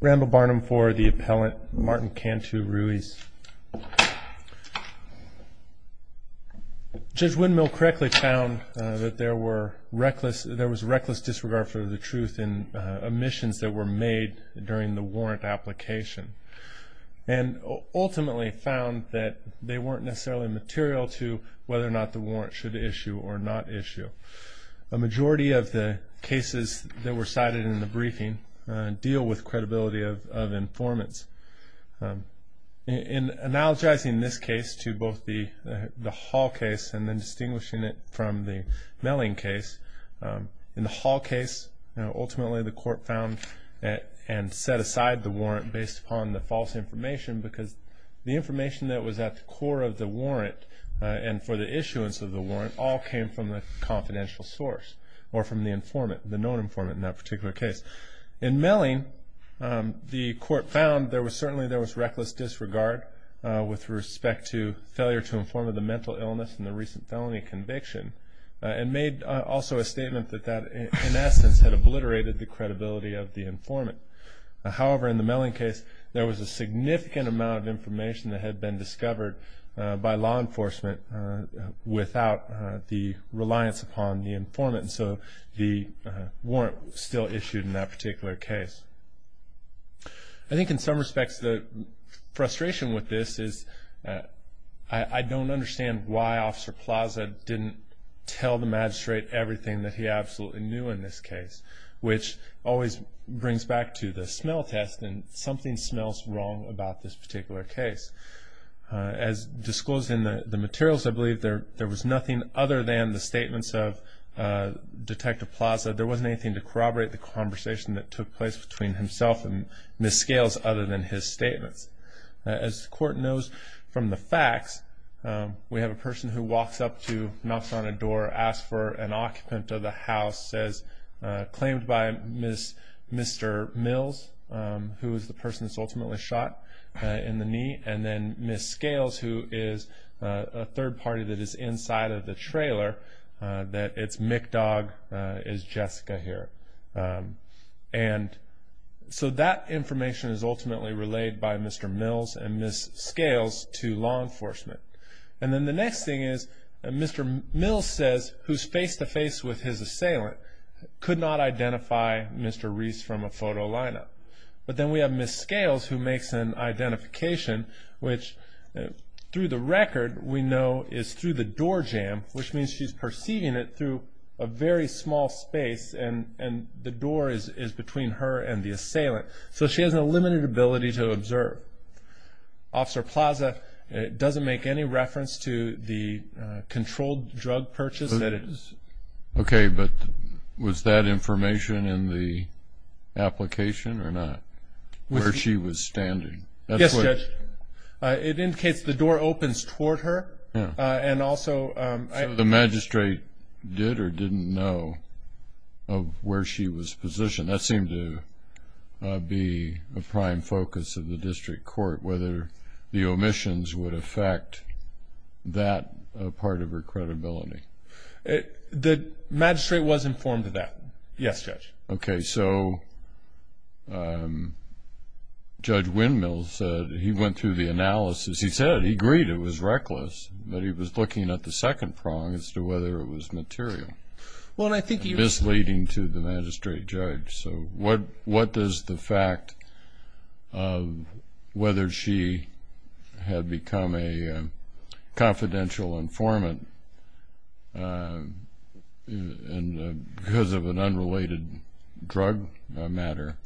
Randal Barnum for the appellant Martin Cantu Ruiz Judge Windmill correctly found that there was reckless disregard for the truth in omissions that were made during the warrant application and ultimately found that they weren't necessarily material to whether or not the warrant should issue or not issue A majority of the cases that were cited in the briefing deal with credibility of informants In analogizing this case to both the Hall case and then distinguishing it from the Melling case In the Hall case, ultimately the court found and set aside the warrant based upon the false information because the information that was at the core of the warrant and for the issuance of the warrant all came from the confidential source or from the informant, the known informant in that particular case In Melling, the court found there was certainly there was reckless disregard with respect to failure to inform of the mental illness and the recent felony conviction and made also a statement that that in essence had obliterated the credibility of the informant However, in the Melling case, there was a significant amount of information that had been discovered by law enforcement without the reliance upon the informant, so the warrant still issued in that particular case I think in some respects the frustration with this is I don't understand why Officer Plaza didn't tell the magistrate everything that he absolutely knew in this case, which always brings back to the smell test and something smells wrong about this particular case As disclosed in the materials, I believe there was nothing other than the statements of Detective Plaza There wasn't anything to corroborate the conversation that took place between himself and Ms. Scales other than his statements As the court knows from the facts, we have a person who walks up to, knocks on a door, asks for an occupant of the house claimed by Mr. Mills, who is the person who was ultimately shot in the knee and then Ms. Scales, who is a third party that is inside of the trailer, that it's McDawg, it's Jessica here So that information is ultimately relayed by Mr. Mills and Ms. Scales to law enforcement And then the next thing is, Mr. Mills says, who is face to face with his assailant, could not identify Mr. Reese from a photo lineup But then we have Ms. Scales who makes an identification, which through the record we know is through the door jam Which means she's perceiving it through a very small space and the door is between her and the assailant So she has a limited ability to observe Officer Plaza doesn't make any reference to the controlled drug purchase that it is Okay, but was that information in the application or not, where she was standing? Yes, Judge It indicates the door opens toward her and also So the magistrate did or didn't know of where she was positioned That seemed to be a prime focus of the district court, whether the omissions would affect that part of her credibility The magistrate was informed of that, yes, Judge Okay, so Judge Windmill said he went through the analysis He said he agreed it was reckless, but he was looking at the second prong as to whether it was material Well, I think he was Misleading to the magistrate judge So what does the fact of whether she had become a confidential informant because of an unrelated drug matter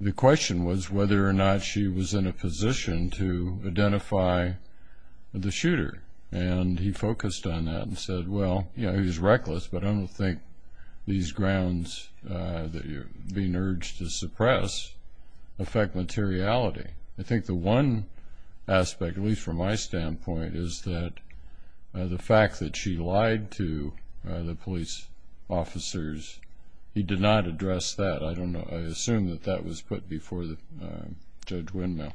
The question was whether or not she was in a position to identify the shooter And he focused on that and said, well, you know, he's reckless, but I don't think these grounds that you're being urged to suppress affect materiality I think the one aspect, at least from my standpoint, is that the fact that she lied to the police officers He did not address that, I don't know, I assume that that was put before Judge Windmill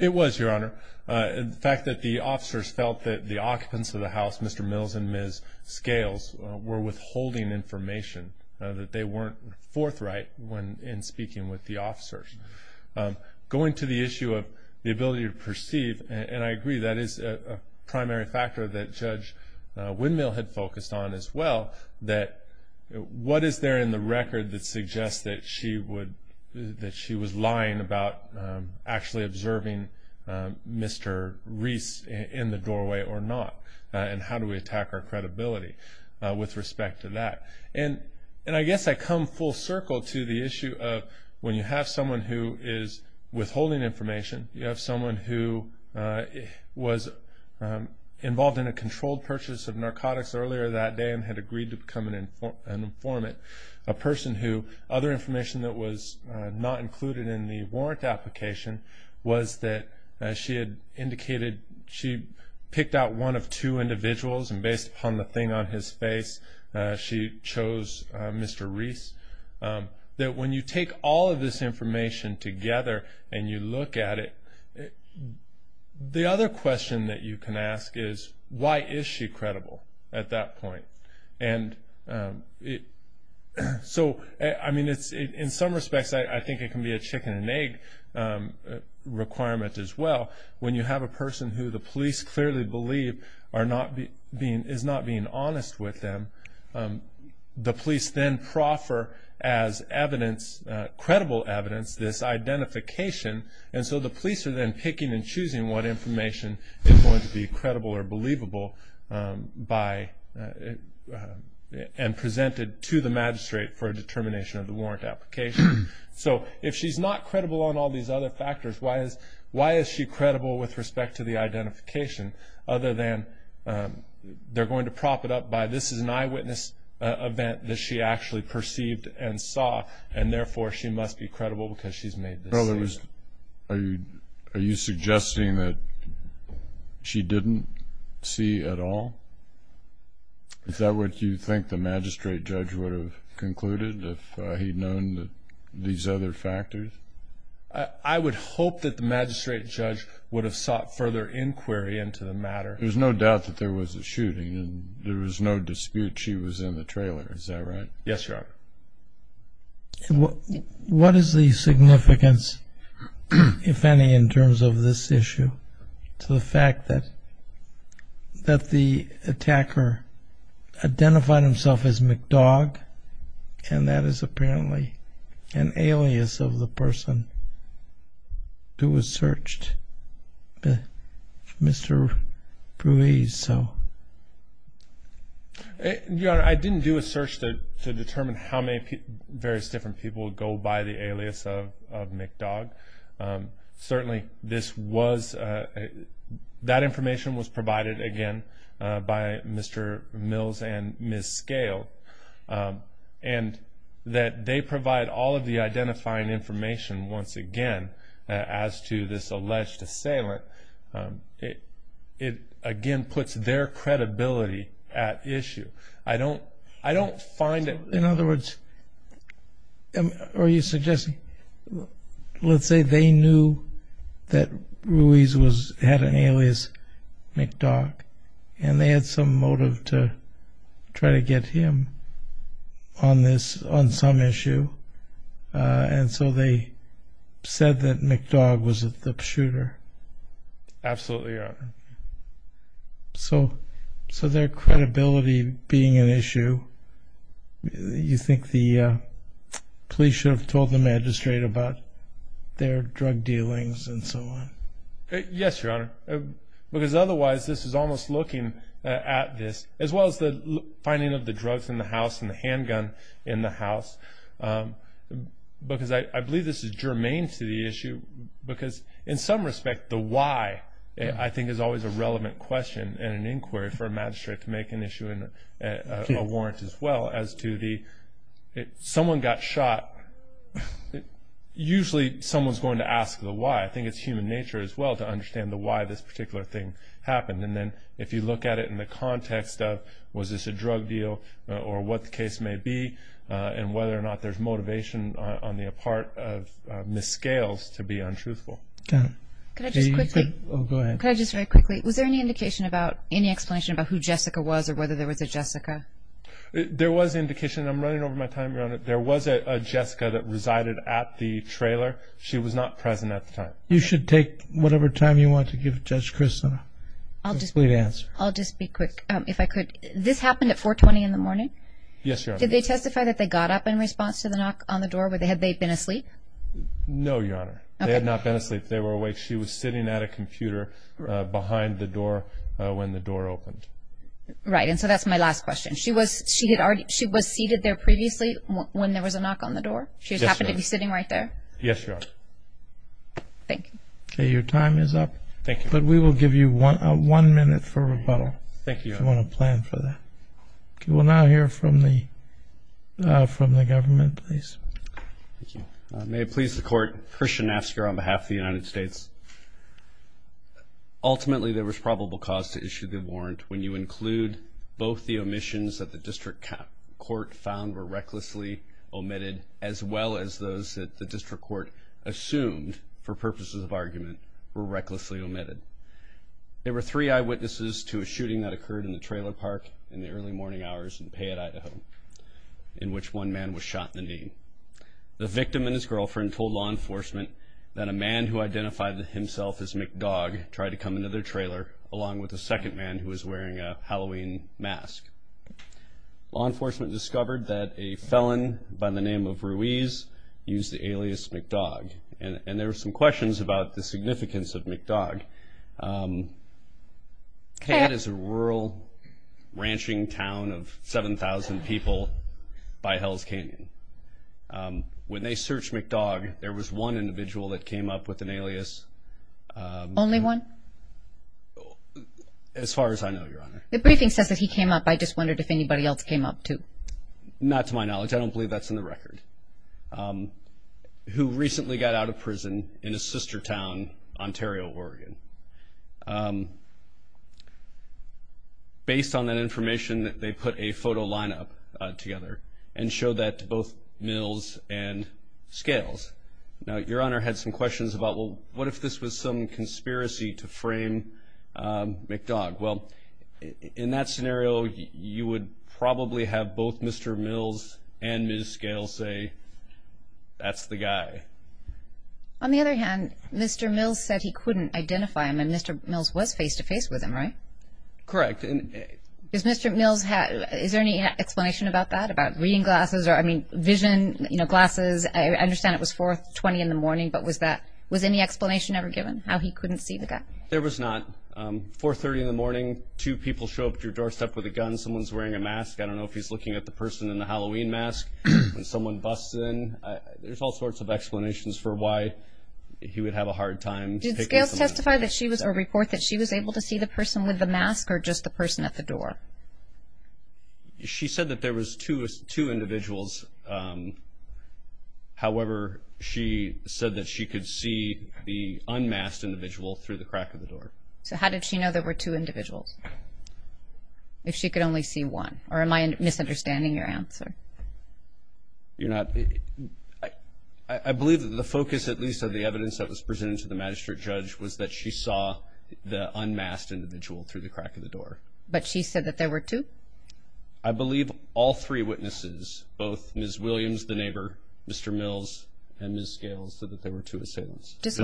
It was, Your Honor The fact that the officers felt that the occupants of the house, Mr. Mills and Ms. Scales, were withholding information That they weren't forthright in speaking with the officers Going to the issue of the ability to perceive, and I agree that is a primary factor that Judge Windmill had focused on as well What is there in the record that suggests that she was lying about actually observing Mr. Reese in the doorway or not? And how do we attack our credibility with respect to that? And I guess I come full circle to the issue of when you have someone who is withholding information You have someone who was involved in a controlled purchase of narcotics earlier that day and had agreed to become an informant A person who, other information that was not included in the warrant application Was that she had indicated, she picked out one of two individuals and based upon the thing on his face, she chose Mr. Reese That when you take all of this information together and you look at it, the other question that you can ask is Why is she credible at that point? And so, I mean, in some respects I think it can be a chicken and egg requirement as well When you have a person who the police clearly believe is not being honest with them The police then proffer as evidence, credible evidence, this identification And so the police are then picking and choosing what information is going to be credible or believable And presented to the magistrate for a determination of the warrant application So if she's not credible on all these other factors, why is she credible with respect to the identification? Other than they're going to prop it up by this is an eyewitness event that she actually perceived and saw And therefore she must be credible because she's made this statement Are you suggesting that she didn't see at all? Is that what you think the magistrate judge would have concluded if he'd known these other factors? I would hope that the magistrate judge would have sought further inquiry into the matter There's no doubt that there was a shooting and there was no dispute she was in the trailer, is that right? Yes, Your Honor What is the significance, if any, in terms of this issue to the fact that the attacker identified himself as McDogg And that is apparently an alias of the person who was searched, Mr. Ruiz Your Honor, I didn't do a search to determine how many various different people go by the alias of McDogg Certainly that information was provided again by Mr. Mills and Ms. Scale And that they provide all of the identifying information once again as to this alleged assailant It again puts their credibility at issue In other words, are you suggesting, let's say they knew that Ruiz had an alias, McDogg And they had some motive to try to get him on some issue And so they said that McDogg was the shooter Absolutely, Your Honor So their credibility being an issue You think the police should have told the magistrate about their drug dealings and so on? Yes, Your Honor Because otherwise this is almost looking at this As well as the finding of the drugs in the house and the handgun in the house Because I believe this is germane to the issue Because in some respect the why I think is always a relevant question And an inquiry for a magistrate to make an issue and a warrant as well As to the, someone got shot Usually someone's going to ask the why I think it's human nature as well to understand the why this particular thing happened And then if you look at it in the context of was this a drug deal or what the case may be And whether or not there's motivation on the part of Ms. Scales to be untruthful Can I just quickly, was there any indication about, any explanation about who Jessica was or whether there was a Jessica? There was indication, I'm running over my time Your Honor There was a Jessica that resided at the trailer She was not present at the time You should take whatever time you want to give Judge Kristina I'll just be quick, if I could This happened at 4.20 in the morning? Yes, Your Honor Did they testify that they got up in response to the knock on the door? Had they been asleep? No, Your Honor They had not been asleep, they were awake She was sitting at a computer behind the door when the door opened Right, and so that's my last question She was seated there previously when there was a knock on the door? Yes, Your Honor She just happened to be sitting right there? Yes, Your Honor Thank you Okay, your time is up Thank you But we will give you one minute for rebuttal Thank you, Your Honor If you want to plan for that Okay, we'll now hear from the government, please Thank you May it please the Court Christian Nasker on behalf of the United States Ultimately, there was probable cause to issue the warrant when you include both the omissions that the District Court found were recklessly omitted as well as those that the District Court assumed for purposes of argument were recklessly omitted There were three eyewitnesses to a shooting that occurred in the trailer park in the early morning hours in Payette, Idaho in which one man was shot in the knee The victim and his girlfriend told law enforcement that a man who identified himself as McDawg tried to come into their trailer along with a second man who was wearing a Halloween mask Law enforcement discovered that a felon by the name of Ruiz used the alias McDawg and there were some questions about the significance of McDawg Payette is a rural ranching town of 7,000 people by Hell's Canyon When they searched McDawg, there was one individual that came up with an alias Only one? As far as I know, Your Honor The briefing says that he came up I just wondered if anybody else came up, too Not to my knowledge I don't believe that's in the record who recently got out of prison in a sister town, Ontario, Oregon Based on that information, they put a photo lineup together and showed that to both Mills and Scales Now, Your Honor had some questions about Well, what if this was some conspiracy to frame McDawg? Well, in that scenario, you would probably have both Mr. Mills and Ms. Scales say That's the guy On the other hand, Mr. Mills said he couldn't identify him and Mr. Mills was face-to-face with him, right? Correct Is there any explanation about that? About reading glasses or vision glasses? I understand it was 4.20 in the morning but was any explanation ever given how he couldn't see the guy? There was not 4.30 in the morning, two people show up at your doorstep with a gun Someone's wearing a mask I don't know if he's looking at the person in the Halloween mask when someone busts in There's all sorts of explanations for why he would have a hard time picking someone up Did Scales testify that she was or report that she was able to see the person with the mask or just the person at the door? She said that there was two individuals However, she said that she could see the unmasked individual through the crack of the door So how did she know there were two individuals? If she could only see one Or am I misunderstanding your answer? You're not I believe that the focus, at least, of the evidence that was presented to the magistrate judge was that she saw the unmasked individual through the crack of the door But she said that there were two? I believe all three witnesses Both Ms. Williams, the neighbor, Mr. Mills, and Ms. Scales said that there were two assailants Did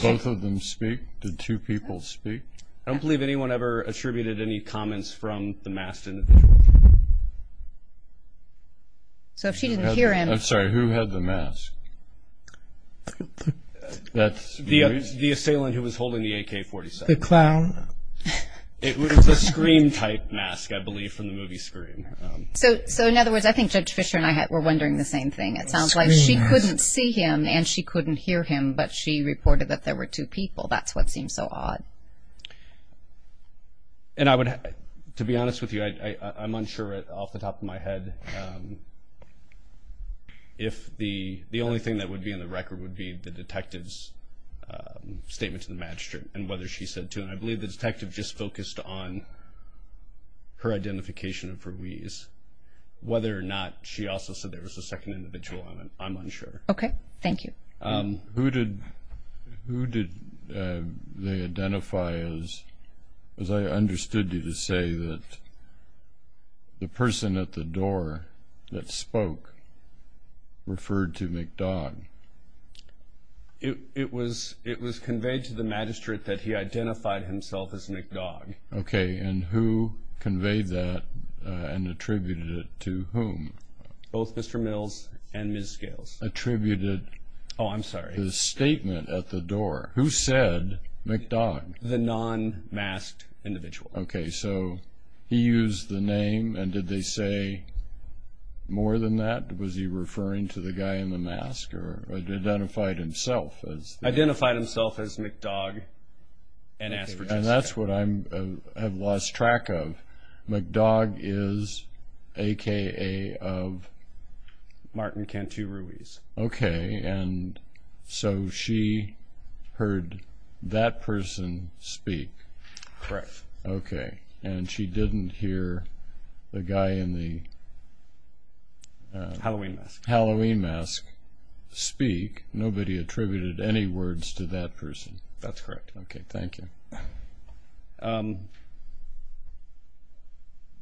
both of them speak? Did two people speak? I don't believe anyone ever attributed any comments from the masked individual So if she didn't hear him I'm sorry, who had the mask? The assailant who was holding the AK-47 The clown It was the scream type mask, I believe, from the movie Scream So in other words, I think Judge Fischer and I were wondering the same thing It sounds like she couldn't see him and she couldn't hear him But she reported that there were two people That's what seems so odd To be honest with you, I'm unsure off the top of my head If the only thing that would be in the record would be the detective's statement to the magistrate And whether she said two And I believe the detective just focused on her identification of her wheeze Whether or not she also said there was a second individual, I'm unsure Okay, thank you Who did they identify as? Because I understood you to say that the person at the door that spoke referred to McDawg It was conveyed to the magistrate that he identified himself as McDawg Okay, and who conveyed that and attributed it to whom? Both Mr. Mills and Ms. Scales Attributed the statement at the door Who said McDawg? The non-masked individual Okay, so he used the name and did they say more than that? Was he referring to the guy in the mask or identified himself? Identified himself as McDawg and asked for justification And that's what I have lost track of McDawg is a.k.a. of? Martin Cantu Ruiz Okay, and so she heard that person speak Correct Okay, and she didn't hear the guy in the Halloween mask speak Nobody attributed any words to that person That's correct Okay, thank you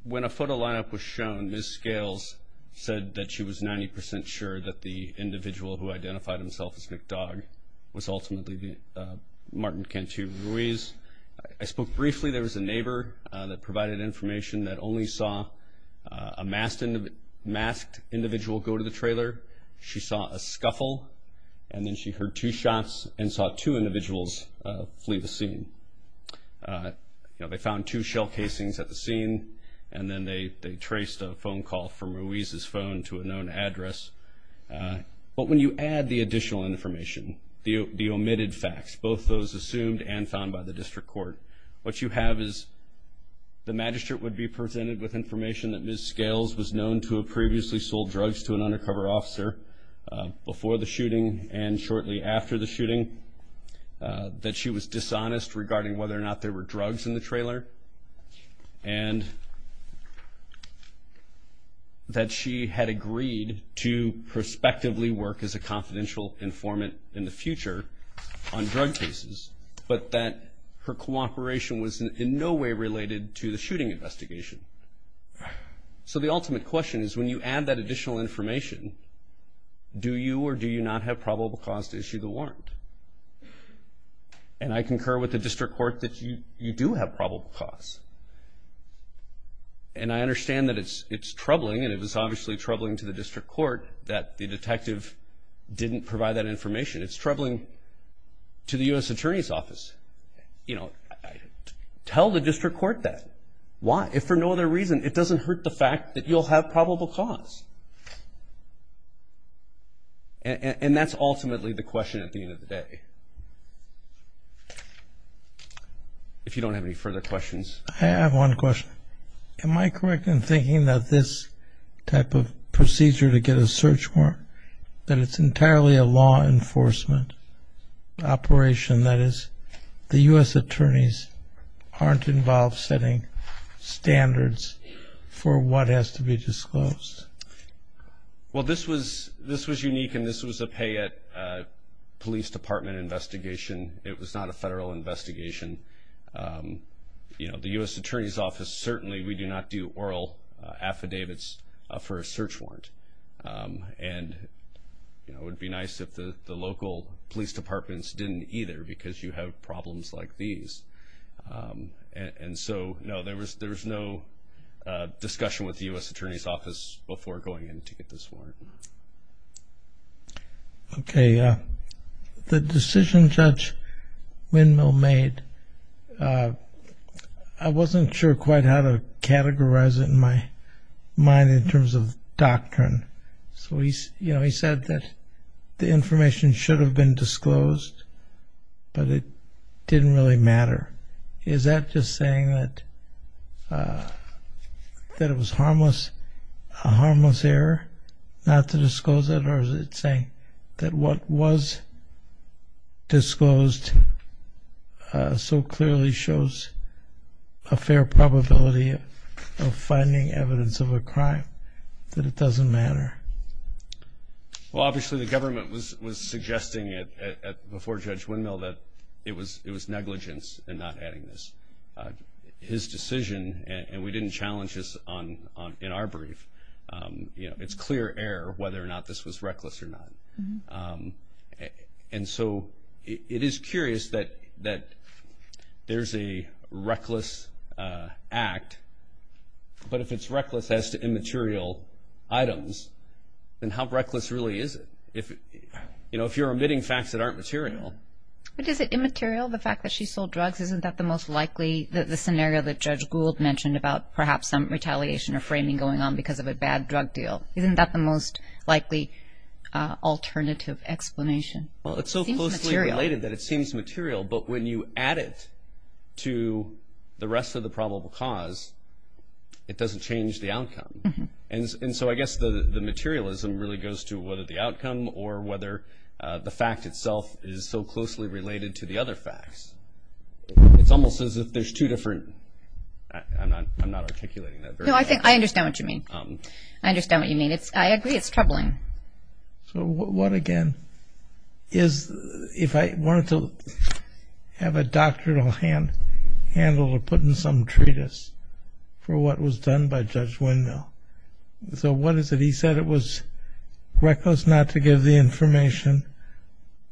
When a photo lineup was shown, Ms. Scales said that she was 90% sure that the individual who identified himself as McDawg Was ultimately Martin Cantu Ruiz I spoke briefly, there was a neighbor that provided information that only saw a masked individual go to the trailer She saw a scuffle and then she heard two shots and saw two individuals flee the scene They found two shell casings at the scene and then they traced a phone call from Ruiz's phone to a known address But when you add the additional information, the omitted facts, both those assumed and found by the district court What you have is the magistrate would be presented with information that Ms. Scales was known to have previously sold drugs to an undercover officer Before the shooting and shortly after the shooting That she was dishonest regarding whether or not there were drugs in the trailer And that she had agreed to prospectively work as a confidential informant in the future on drug cases But that her cooperation was in no way related to the shooting investigation So the ultimate question is when you add that additional information Do you or do you not have probable cause to issue the warrant? And I concur with the district court that you do have probable cause And I understand that it's troubling and it is obviously troubling to the district court that the detective didn't provide that information It's troubling to the U.S. Attorney's Office Tell the district court that, why? If for no other reason it doesn't hurt the fact that you'll have probable cause And that's ultimately the question at the end of the day If you don't have any further questions I have one question Am I correct in thinking that this type of procedure to get a search warrant That it's entirely a law enforcement operation That is the U.S. attorneys aren't involved setting standards for what has to be disclosed Well this was unique and this was a pay at police department investigation It was not a federal investigation The U.S. Attorney's Office certainly we do not do oral affidavits for a search warrant And it would be nice if the local police departments didn't either Because you have problems like these And so there was no discussion with the U.S. Attorney's Office before going in to get this warrant Okay, the decision Judge Windmill made I wasn't sure quite how to categorize it in my mind in terms of doctrine So he said that the information should have been disclosed But it didn't really matter Is that just saying that it was a harmless error not to disclose it Or is it saying that what was disclosed So clearly shows a fair probability of finding evidence of a crime That it doesn't matter Well obviously the government was suggesting it before Judge Windmill That it was negligence in not adding this His decision and we didn't challenge this in our brief It's clear error whether or not this was reckless or not And so it is curious that there's a reckless act But if it's reckless as to immaterial items Then how reckless really is it You know if you're omitting facts that aren't material But is it immaterial the fact that she sold drugs Isn't that the most likely scenario that Judge Gould mentioned About perhaps some retaliation or framing going on because of a bad drug deal Isn't that the most likely alternative explanation Well it's so closely related that it seems material But when you add it to the rest of the probable cause It doesn't change the outcome And so I guess the materialism really goes to whether the outcome Or whether the fact itself is so closely related to the other facts It's almost as if there's two different I'm not articulating that very well No I think I understand what you mean I understand what you mean I agree it's troubling So what again is if I wanted to have a doctrinal handle Or put in some treatise for what was done by Judge Windmill So what is it he said it was reckless not to give the information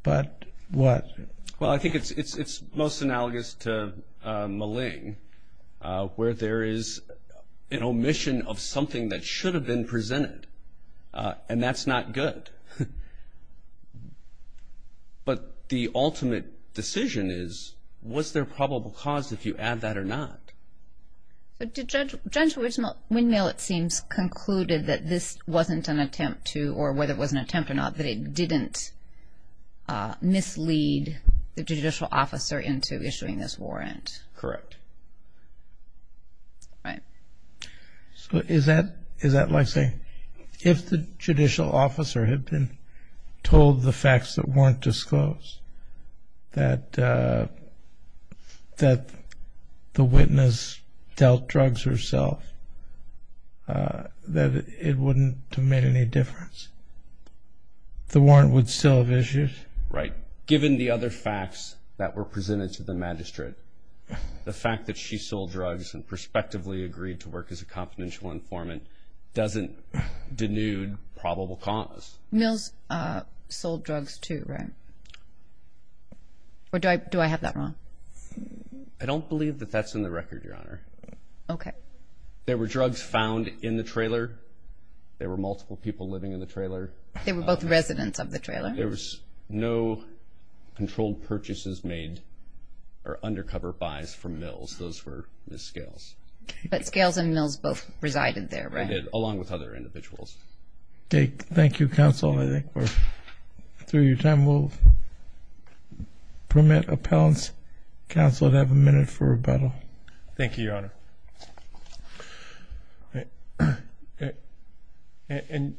But what Well I think it's most analogous to Maling Where there is an omission of something that should have been presented And that's not good But the ultimate decision is Was there probable cause if you add that or not Judge Windmill it seems concluded that this wasn't an attempt to Or whether it was an attempt or not That it didn't mislead the judicial officer into issuing this warrant Correct Right So is that like saying If the judicial officer had been told the facts that weren't disclosed That the witness dealt drugs herself That it wouldn't have made any difference The warrant would still have issued Right Given the other facts that were presented to the magistrate The fact that she sold drugs and prospectively agreed to work as a confidential informant Doesn't denude probable cause Mills sold drugs too right Or do I have that wrong I don't believe that that's in the record your honor Okay There were drugs found in the trailer There were multiple people living in the trailer They were both residents of the trailer There was no controlled purchases made Or undercover buys from Mills Those were Ms. Scales But Scales and Mills both resided there right They did along with other individuals Thank you counsel Through your time we'll permit appellants Counsel to have a minute for rebuttal Thank you your honor And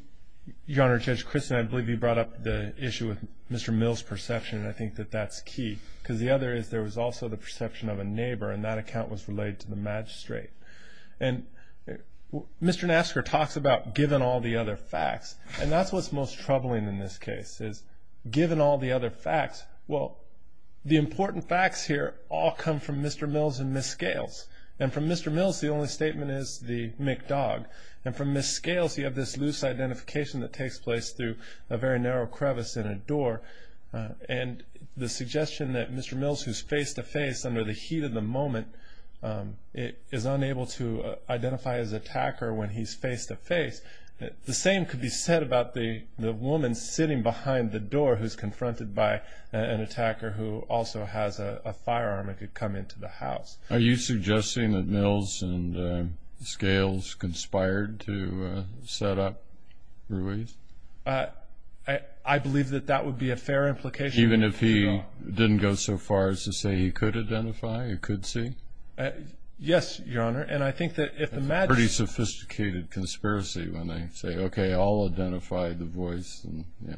your honor Judge Christin I believe you brought up the issue with Mr. Mills perception And I think that that's key Because the other is there was also the perception of a neighbor And that account was related to the magistrate And Mr. Nasker talks about given all the other facts And that's what's most troubling in this case Is given all the other facts Well the important facts here all come from Mr. Mills and Ms. Scales And from Mr. Mills the only statement is the McDog And from Ms. Scales you have this loose identification That takes place through a very narrow crevice in a door And the suggestion that Mr. Mills who's face to face Under the heat of the moment Is unable to identify his attacker when he's face to face The same could be said about the woman sitting behind the door Who's confronted by an attacker who also has a firearm That could come into the house Are you suggesting that Mills and Scales conspired to set up Ruiz? I believe that that would be a fair implication Even if he didn't go so far as to say he could identify, he could see? Yes your honor and I think that if the magistrate That's a pretty sophisticated conspiracy when they say Okay I'll identify the voice and yeah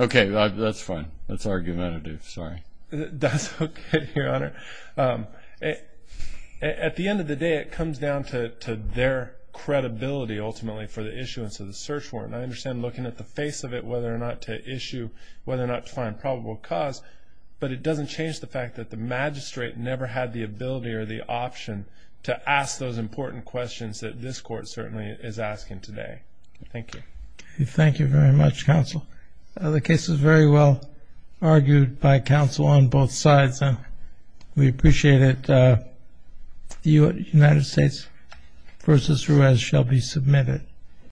Okay that's fine that's argumentative sorry That's okay your honor At the end of the day it comes down to their credibility Ultimately for the issuance of the search warrant I understand looking at the face of it whether or not to issue Whether or not to find probable cause But it doesn't change the fact that the magistrate Never had the ability or the option to ask those important questions That this court certainly is asking today Thank you Thank you very much counsel The case is very well argued by counsel on both sides We appreciate it The United States v. Ruiz shall be submitted